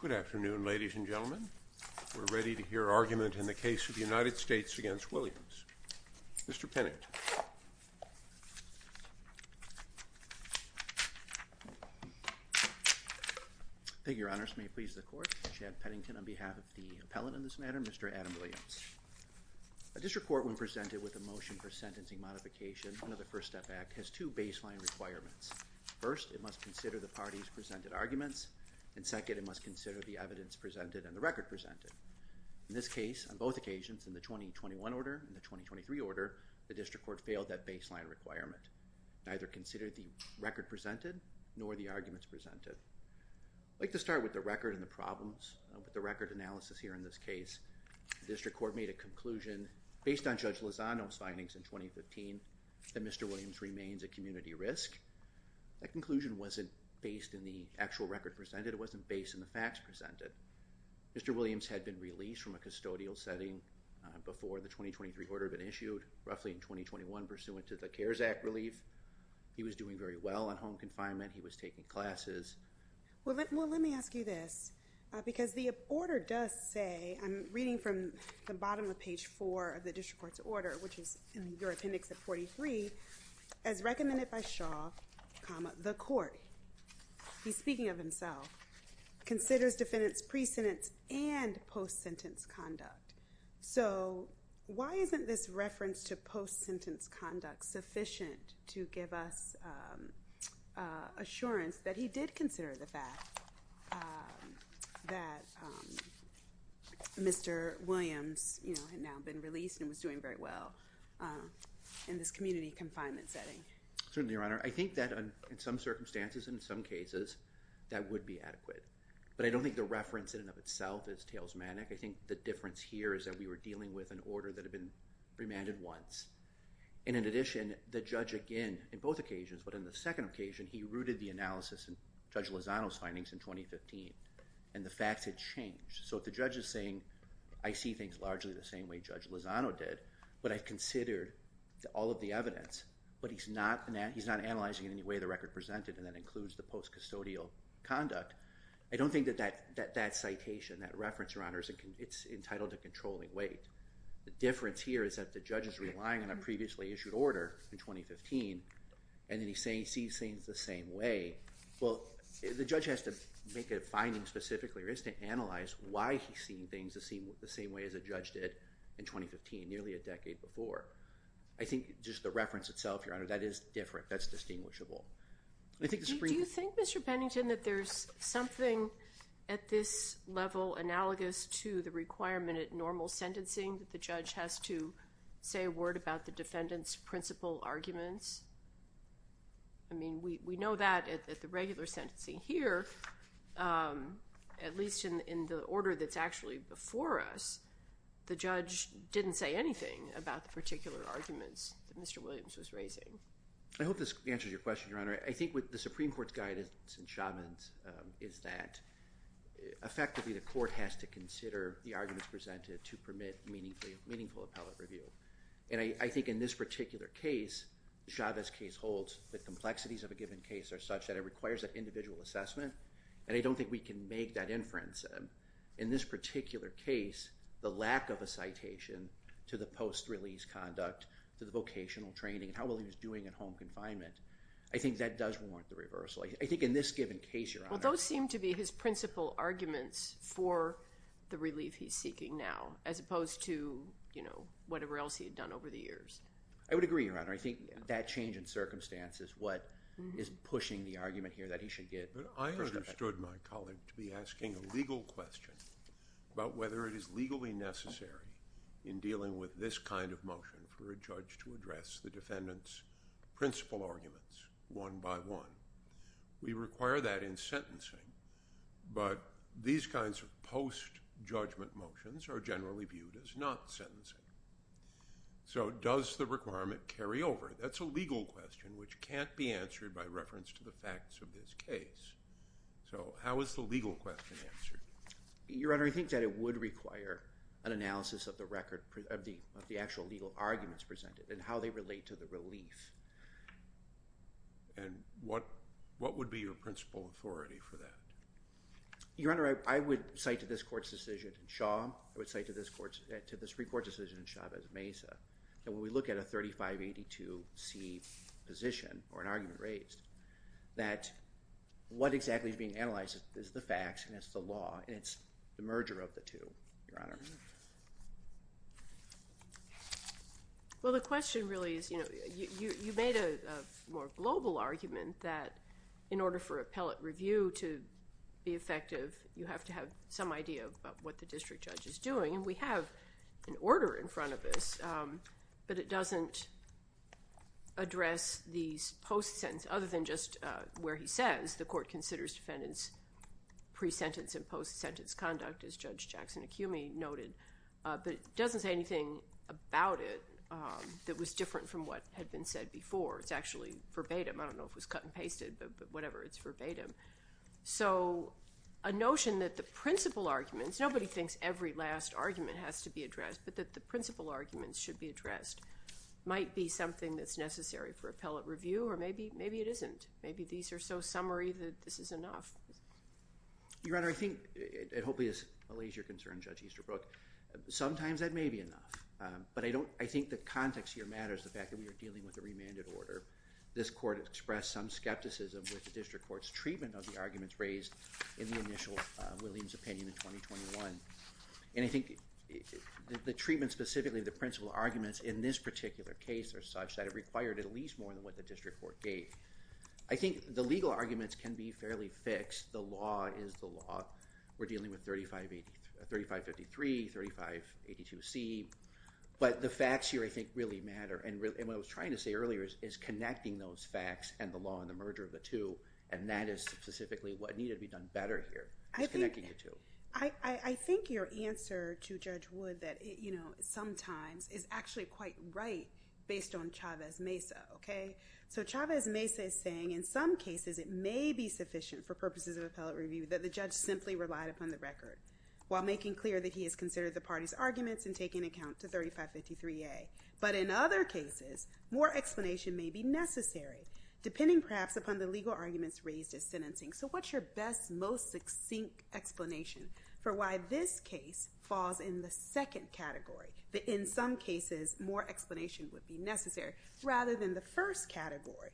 Good afternoon, ladies and gentlemen. We're ready to hear argument in the case of the United States v. Williams. Mr. Pennington. Thank you, Your Honors. May it please the Court, Chad Pennington on behalf of the appellant on this matter, Mr. Adam Williams. This report when presented with a motion for sentencing modification under the First Step Act has two baseline requirements. First, it must consider the party's presented arguments, and second, it must consider the evidence presented and the record presented. In this case, on both occasions, in the 2021 order and the 2023 order, the District Court failed that baseline requirement. Neither considered the record presented nor the arguments presented. I'd like to start with the record and the problems. With the record analysis here in this case, the District Court made a conclusion based on Judge Lozano's findings in 2015 that Mr. Williams remains at community risk. That conclusion wasn't based in the actual record presented. It wasn't based in the facts presented. Mr. Williams had been released from a custodial setting before the 2023 order had been issued, roughly in 2021, pursuant to the CARES Act relief. He was doing very well on home confinement. He was taking classes. Well, let me ask you this, because the order does say, I'm reading from the bottom of page 4 of the District Court's order, which is in your appendix at 43, as recommended by Shaw, the court, he's speaking of himself, considers defendants' pre-sentence and post-sentence conduct. So why isn't this reference to post-sentence conduct sufficient to give us assurance that he did consider the fact that Mr. Williams had now been released and was doing very well in this community confinement setting? Certainly, Your Honor. I think that in some circumstances and in some cases, that would be adequate. But I don't think the reference in and of itself is tailsmanic. I think the difference here is that we were dealing with an order that had been remanded once. And in addition, the judge, again, in both occasions but in the second occasion, he rooted the analysis in Judge Lozano's findings in 2015. And the facts had changed. So if the judge is saying, I see things largely the same way Judge Lozano did, but I considered all of the evidence, but he's not analyzing in any way the record presented, and that includes the post-custodial conduct, I don't think that that citation, that reference, Your Honor, it's entitled to controlling weight. The difference here is that the judge is relying on a previously issued order in 2015, and then he sees things the same way. Well, the judge has to make a finding specifically or has to analyze why he's seeing things the same way as a judge did in 2015, nearly a decade before. I think just the reference itself, Your Honor, that is different. That's distinguishable. Do you think, Mr. Pennington, that there's something at this level analogous to the requirement at normal sentencing that the judge has to say a word about the defendant's principal arguments? I mean, we know that at the regular sentencing here, at least in the order that's actually before us, the judge didn't say anything about the particular arguments that Mr. Williams was raising. I hope this answers your question, Your Honor. I think with the Supreme Court's guidance in Chauvin's is that, effectively, the court has to consider the arguments presented to permit meaningful appellate review. And I think in this particular case, Chavez's case holds that complexities of a given case are such that it requires an individual assessment, and I don't think we can make that inference. In this particular case, the lack of a citation to the post-release conduct, to the vocational training, how well he was doing at home confinement, I think that does warrant the reversal. I think in this given case, Your Honor— Well, those seem to be his principal arguments for the relief he's seeking now, as opposed to, you know, whatever else he had done over the years. I would agree, Your Honor. I think that change in circumstance is what is pushing the argument here that he should get— I understood my colleague to be asking a legal question about whether it is legally necessary in dealing with this kind of motion for a judge to address the arguments one by one. We require that in sentencing, but these kinds of post-judgment motions are generally viewed as not sentencing. So does the requirement carry over? That's a legal question which can't be answered by reference to the facts of this case. So how is the legal question answered? Your Honor, I think that it would require an analysis of the actual legal arguments presented and how they relate to the relief. And what would be your principal authority for that? Your Honor, I would cite to this Court's decision in Shaw. I would cite to this Supreme Court's decision in Chavez-Mesa. And when we look at a 3582C position or an argument raised, that what exactly is being analyzed is the facts and it's the law and it's the merger of the two, Your Honor. Well, the question really is, you know, you made a more global argument that in order for appellate review to be effective, you have to have some idea of what the district judge is doing. And we have an order in front of us, but it doesn't address these post-sentence— other than just where he says the Court considers defendants' pre-sentence and post-sentence conduct, as Judge Jackson Acumi noted. But it doesn't say anything about it that was different from what had been said before. It's actually verbatim. I don't know if it was cut and pasted, but whatever, it's verbatim. So a notion that the principal arguments— nobody thinks every last argument has to be addressed, but that the principal arguments should be addressed— might be something that's necessary for appellate review, or maybe it isn't. Maybe these are so summary that this is enough. Your Honor, I think— it hopefully allays your concern, Judge Easterbrook— sometimes that may be enough. But I don't— I think the context here matters, the fact that we are dealing with a remanded order. This Court expressed some skepticism with the district court's treatment of the arguments raised in the initial Williams opinion in 2021. And I think the treatment, specifically, the principal arguments in this particular case are such that it required at the district court gate. I think the legal arguments can be fairly fixed. The law is the law. We're dealing with 3553, 3582C. But the facts here, I think, really matter. And what I was trying to say earlier is connecting those facts and the law and the merger of the two, and that is specifically what needed to be done better here. It's connecting the two. I think your answer to Judge Wood that, you know, sometimes is actually quite right based on So, Chavez-Mesa is saying, in some cases, it may be sufficient for purposes of appellate review that the judge simply relied upon the record while making clear that he has considered the party's arguments and taken account to 3553A. But in other cases, more explanation may be necessary, depending perhaps upon the legal arguments raised as sentencing. So what's your best, most succinct explanation for why this case falls in the second category, that in some cases, more explanation would be necessary, rather than the first category,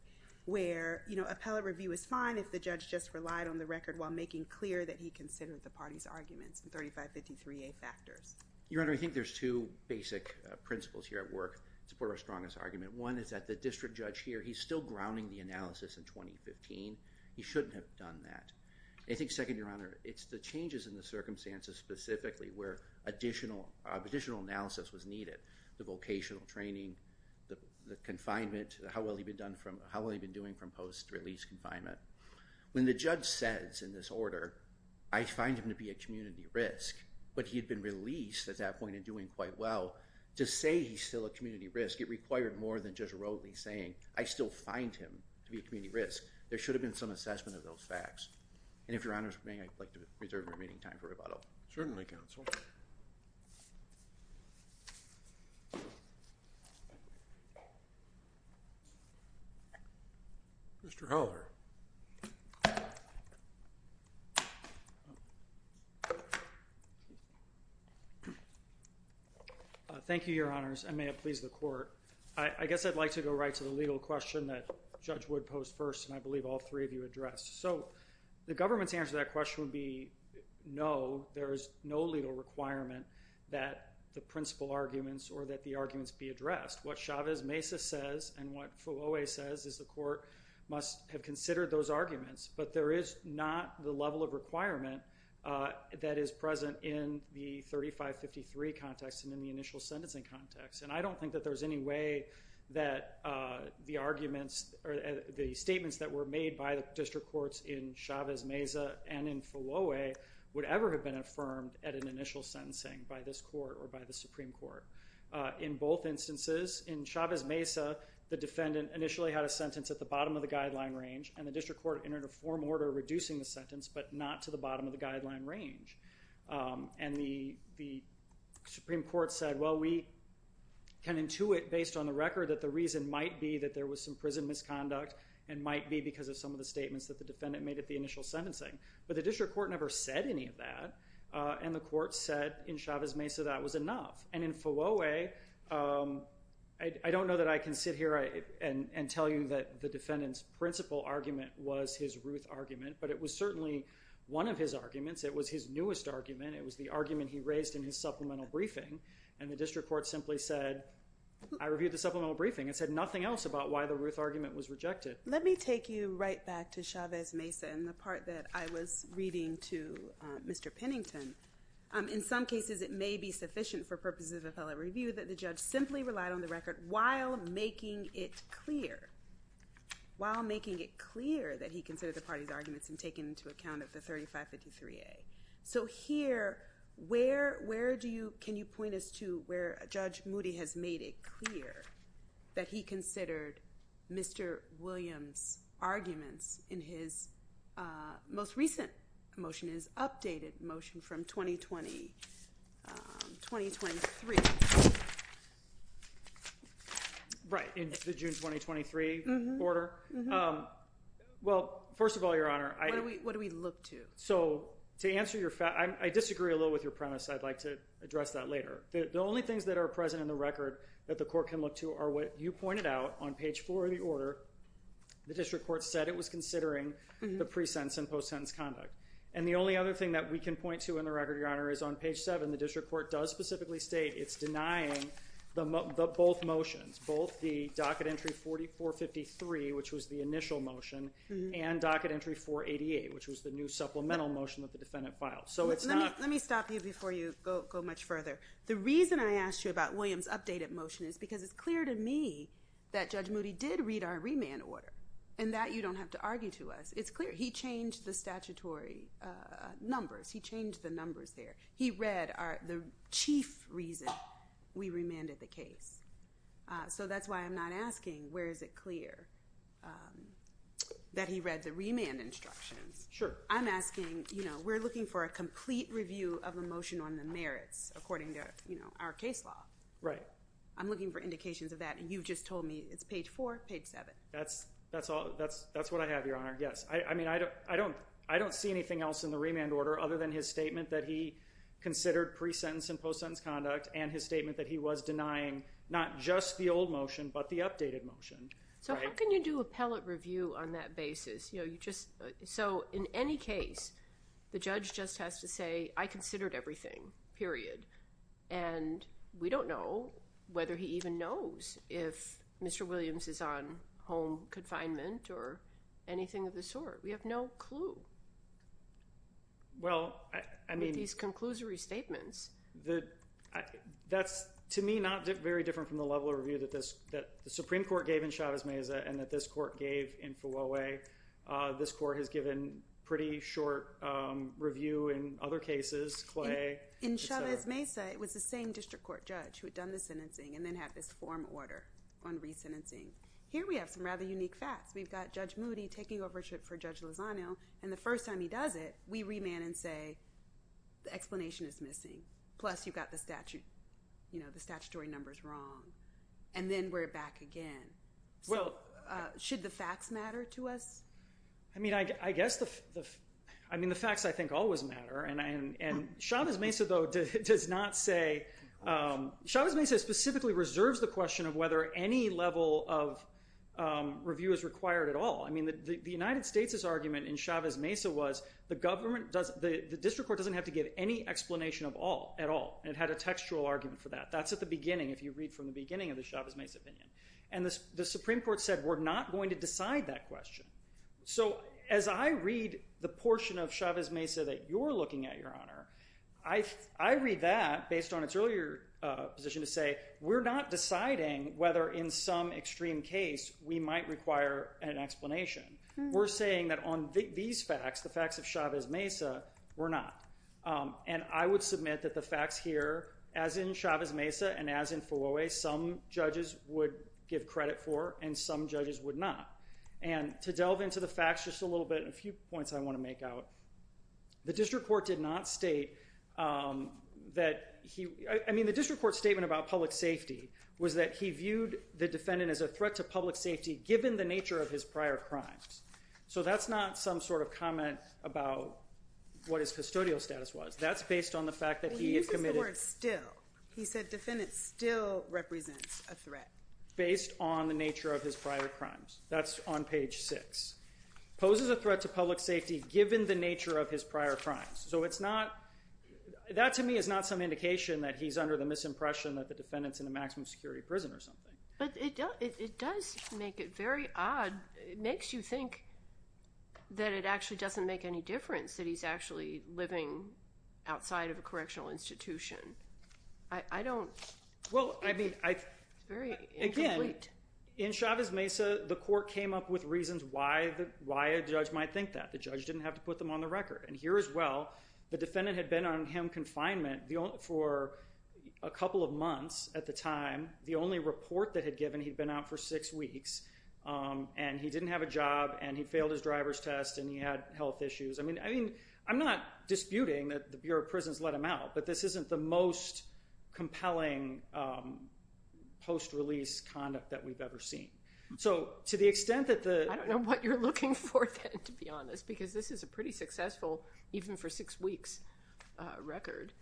where, you know, appellate review is fine if the judge just relied on the record while making clear that he considered the party's arguments and 3553A factors? Your Honor, I think there's two basic principles here at work to support our strongest argument. One is that the district judge here, he's still grounding the analysis in 2015. He shouldn't have done that. I think, second, Your Honor, it's the changes in the circumstances specifically where additional analysis was needed, the vocational training, the confinement, how well he'd been done from, how well he'd been doing from post-release confinement. When the judge says in this order, I find him to be a community risk, but he had been released at that point and doing quite well. To say he's still a community risk, it required more than just rotely saying, I still find him to be a community risk. There should have been some assessment of those facts. And if Your Honor's permitting, I'd like to reserve the remaining time for rebuttal. Certainly, counsel. Mr. Heller. Thank you, Your Honors. I may have pleased the court. I guess I'd like to go right to the legal question that Judge Wood posed first and I believe all three of you addressed. So, the government's answer to that question would be no. There is no legal requirement that the principal arguments or that the arguments be addressed. What Chavez-Mesa says and what Fulwe says is the court must have considered those arguments, but there is not the level of requirement that is present in the 3553 context and in the initial sentencing context. And I don't think that there's any way that the and in Fulwe would ever have been affirmed at an initial sentencing by this court or by the Supreme Court. In both instances, in Chavez-Mesa, the defendant initially had a sentence at the bottom of the guideline range and the district court entered a form order reducing the sentence, but not to the bottom of the guideline range. And the Supreme Court said, well, we can intuit based on the record that the reason might be that there was some prison misconduct and might be some of the statements that the defendant made at the initial sentencing. But the district court never said any of that and the court said in Chavez-Mesa that was enough. And in Fulwe, I don't know that I can sit here and tell you that the defendant's principal argument was his Ruth argument, but it was certainly one of his arguments. It was his newest argument. It was the argument he raised in his supplemental briefing and the district court simply said, I reviewed the supplemental briefing. It said nothing else about why the Ruth argument was Chavez-Mesa. And the part that I was reading to Mr. Pennington, in some cases it may be sufficient for purposes of appellate review that the judge simply relied on the record while making it clear that he considered the party's arguments and taken into account of the 3553A. So here, can you point us to where Judge Moody has made it clear that he considered Mr. Williams' arguments in his most recent motion, his updated motion from 2020, 2023? Right, in the June 2023 order? Well, first of all, Your Honor, I... What do we look to? So to answer your... I disagree a little with your premise. I'd like to address that later. The only things that are present in the record that the court can look to are what you pointed out on page four of the order. The district court said it was considering the pre-sentence and post-sentence conduct. And the only other thing that we can point to in the record, Your Honor, is on page seven, the district court does specifically state it's denying both motions, both the docket entry 4453, which was the initial motion, and docket entry 488, which was the new supplemental motion that the defendant filed. So it's not... Let me stop you before you go much further. The reason I asked you about Williams' updated motion is because it's clear to me that Judge Moody did read our remand order, and that you don't have to argue to us. It's clear. He changed the statutory numbers. He changed the numbers there. He read the chief reason we remanded the case. So that's why I'm not asking where is it clear that he read the remand instructions. Sure. I'm asking... We're looking for a complete review of the motion on the merits, according to our case law. Right. I'm looking for indications of that, and you've just told me it's page four, page seven. That's what I have, Your Honor. Yes. I mean, I don't see anything else in the remand order, other than his statement that he considered pre-sentence and post-sentence conduct, and his statement that he was denying not just the old motion, but the updated motion. So how can you do appellate review on that basis? So in any case, the judge just has to say, I considered everything, period. And we don't know whether he even knows if Mr. Williams is on home confinement or anything of the sort. We have no clue with these conclusory statements. That's, to me, not very different from the level of review that the Supreme Court gave in Chavez-Meza and that this court gave in Fulwe. This court has given pretty short review in other cases, Clay. In Chavez-Meza, it was the same district court judge who had done the sentencing and then had this form order on re-sentencing. Here, we have some rather unique facts. We've got Judge Moody taking over for Judge Lozano, and the first time he does it, we remand and say, the explanation is missing. Plus, you've got the statutory numbers wrong. And then we're back again. So should the facts matter to us? I mean, I guess the facts, I think, always matter. And Chavez-Meza, though, does not say. Chavez-Meza specifically reserves the question of whether any level of review is required at all. I mean, the United States' argument in Chavez-Meza was the district court doesn't have to give any explanation at all. It had a textual argument for that. That's at the beginning, if you read from the beginning of the Chavez-Meza opinion. And the Supreme Court said, we're not going to decide that question. So as I read the portion of Chavez-Meza that you're looking at, Your Honor, I read that based on its earlier position to say, we're not deciding whether, in some extreme case, we might require an explanation. We're saying that on these facts, the facts of Chavez-Meza, we're not. And I would submit that the facts here, as in Chavez-Meza and as in Fawoey, some judges would give credit for and some judges would not. And to delve into the facts just a little bit, a few points I want to make out. The district court did not state that he, I mean, the district court statement about public safety was that he viewed the defendant as a threat to public safety, given the nature of his prior crimes. So that's not some sort of comment about what his custodial status was. That's based on the fact that he had committed- He uses the word still. He said defendant still represents a threat. Based on the nature of his prior crimes. That's on page six. Poses a threat to public safety, given the nature of his prior crimes. So it's not, that to me is not some indication that he's under the misimpression that the defendant's in a maximum security prison or something. But it does make it very odd. It makes you think that it actually doesn't make any difference that he's actually living outside of a correctional institution. I don't- Well, I mean- Again, in Chavez Mesa, the court came up with reasons why a judge might think that. The judge didn't have to put them on the record. And here as well, the defendant had been on him confinement for a couple of months at the time. The only report that had given, he'd been out for six weeks and he didn't have a job and he failed his driver's test and he had health issues. I mean, I'm not disputing that the Bureau of Prisons let him out, but this isn't the most compelling post-release conduct that we've ever seen. So to the extent that the- I don't know what you're looking for then, to be honest, because this is a pretty successful, even for six weeks, record.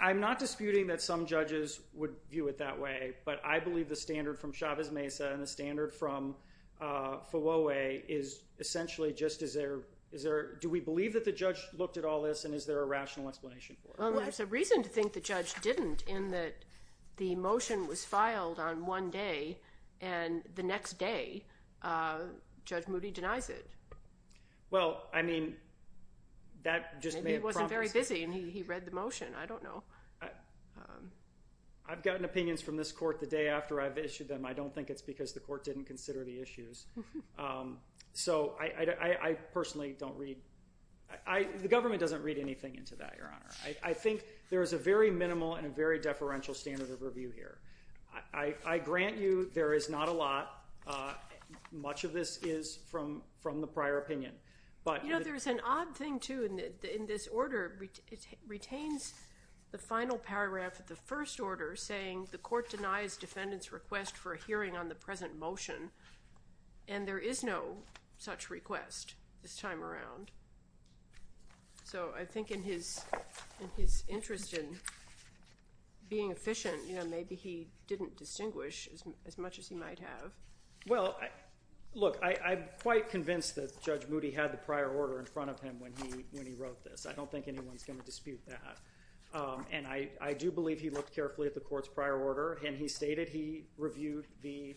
I'm not disputing that some judges would view it that way, but I believe the standard from Chavez Mesa and the standard from essentially just is there- Do we believe that the judge looked at all this and is there a rational explanation for it? Well, there's a reason to think the judge didn't in that the motion was filed on one day and the next day, Judge Moody denies it. Well, I mean, that just- Maybe he wasn't very busy and he read the motion. I don't know. I've gotten opinions from this court the day after I've issued them. I don't think it's because the court didn't consider the issues. So I personally don't read- The government doesn't read anything into that, Your Honor. I think there is a very minimal and a very deferential standard of review here. I grant you there is not a lot. Much of this is from the prior opinion, but- You know, there's an odd thing too in this order. It retains the final paragraph of the first order saying the court denies defendant's request for a hearing on the present motion, and there is no such request this time around. So I think in his interest in being efficient, you know, maybe he didn't distinguish as much as he might have. Well, look, I'm quite convinced that Judge Moody had the prior order in front of him when he was going to dispute that. And I do believe he looked carefully at the court's prior order, and he stated he reviewed the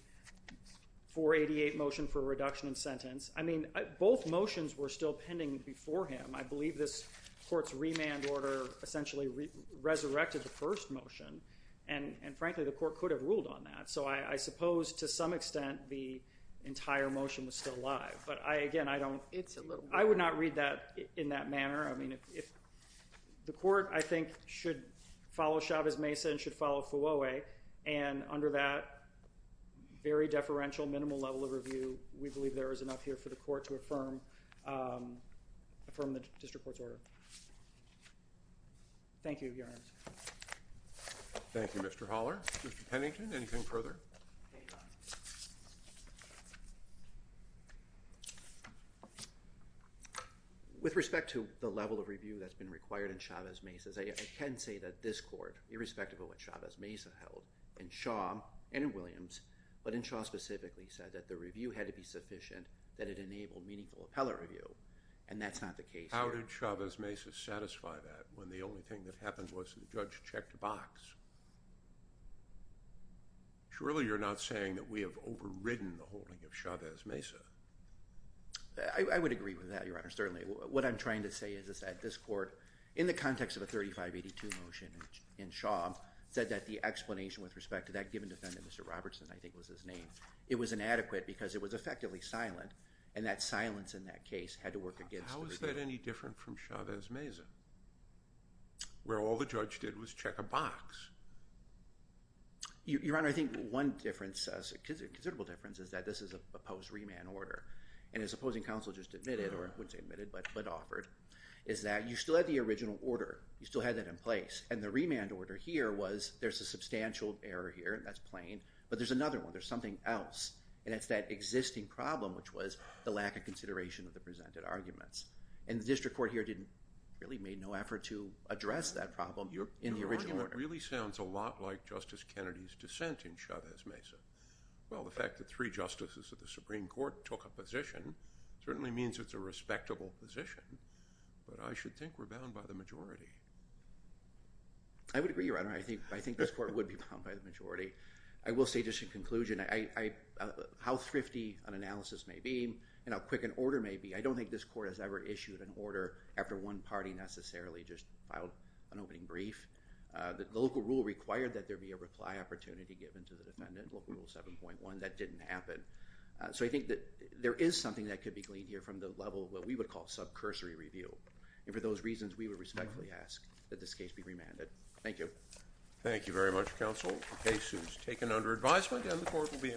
488 motion for reduction in sentence. I mean, both motions were still pending before him. I believe this court's remand order essentially resurrected the first motion, and frankly, the court could have ruled on that. So I suppose to some extent, the entire motion was still alive. But again, I don't- It's a little- I would not read that in that manner. I mean, if- The court, I think, should follow Chavez-Mesa and should follow Fouawe. And under that very deferential, minimal level of review, we believe there is enough here for the court to affirm the district court's order. Thank you, Your Honor. Thank you, Mr. Holler. Mr. Pennington, anything further? With respect to the level of review that's been required in Chavez-Mesa, I can say that this court, irrespective of what Chavez-Mesa held, in Shaw and in Williams, but in Shaw specifically, said that the review had to be sufficient, that it enabled meaningful appellate review, and that's not the case here. How did Chavez-Mesa satisfy that when the only thing that happened we have overridden the holding of Chavez-Mesa? I would agree with that, Your Honor, certainly. What I'm trying to say is that this court, in the context of a 3582 motion in Shaw, said that the explanation with respect to that given defendant, Mr. Robertson, I think was his name, it was inadequate because it was effectively silent, and that silence in that case had to work against the review. How is that any different from Chavez-Mesa, where all the judge did was check a box? Your Honor, I think one difference, a considerable difference, is that this is a post-remand order, and as opposing counsel just admitted, or I wouldn't say admitted, but offered, is that you still had the original order, you still had that in place, and the remand order here was, there's a substantial error here, and that's plain, but there's another one, there's something else, and it's that existing problem, which was the lack of consideration of the presented arguments, and the district court here didn't, really made no effort to address that argument. The argument really sounds a lot like Justice Kennedy's dissent in Chavez-Mesa. Well, the fact that three justices of the Supreme Court took a position certainly means it's a respectable position, but I should think we're bound by the majority. I would agree, Your Honor, I think this court would be bound by the majority. I will say, just in conclusion, how thrifty an analysis may be, and how quick an order may be, I don't think this court has ever issued an order after one party necessarily just filed an opening brief. The local rule required that there be a reply opportunity given to the defendant, local rule 7.1, that didn't happen. So I think that there is something that could be gleaned here from the level of what we would call subcursory review, and for those reasons, we would respectfully ask that this case be remanded. Thank you. Thank you very much, counsel. The case is taken under advisement, and the court will be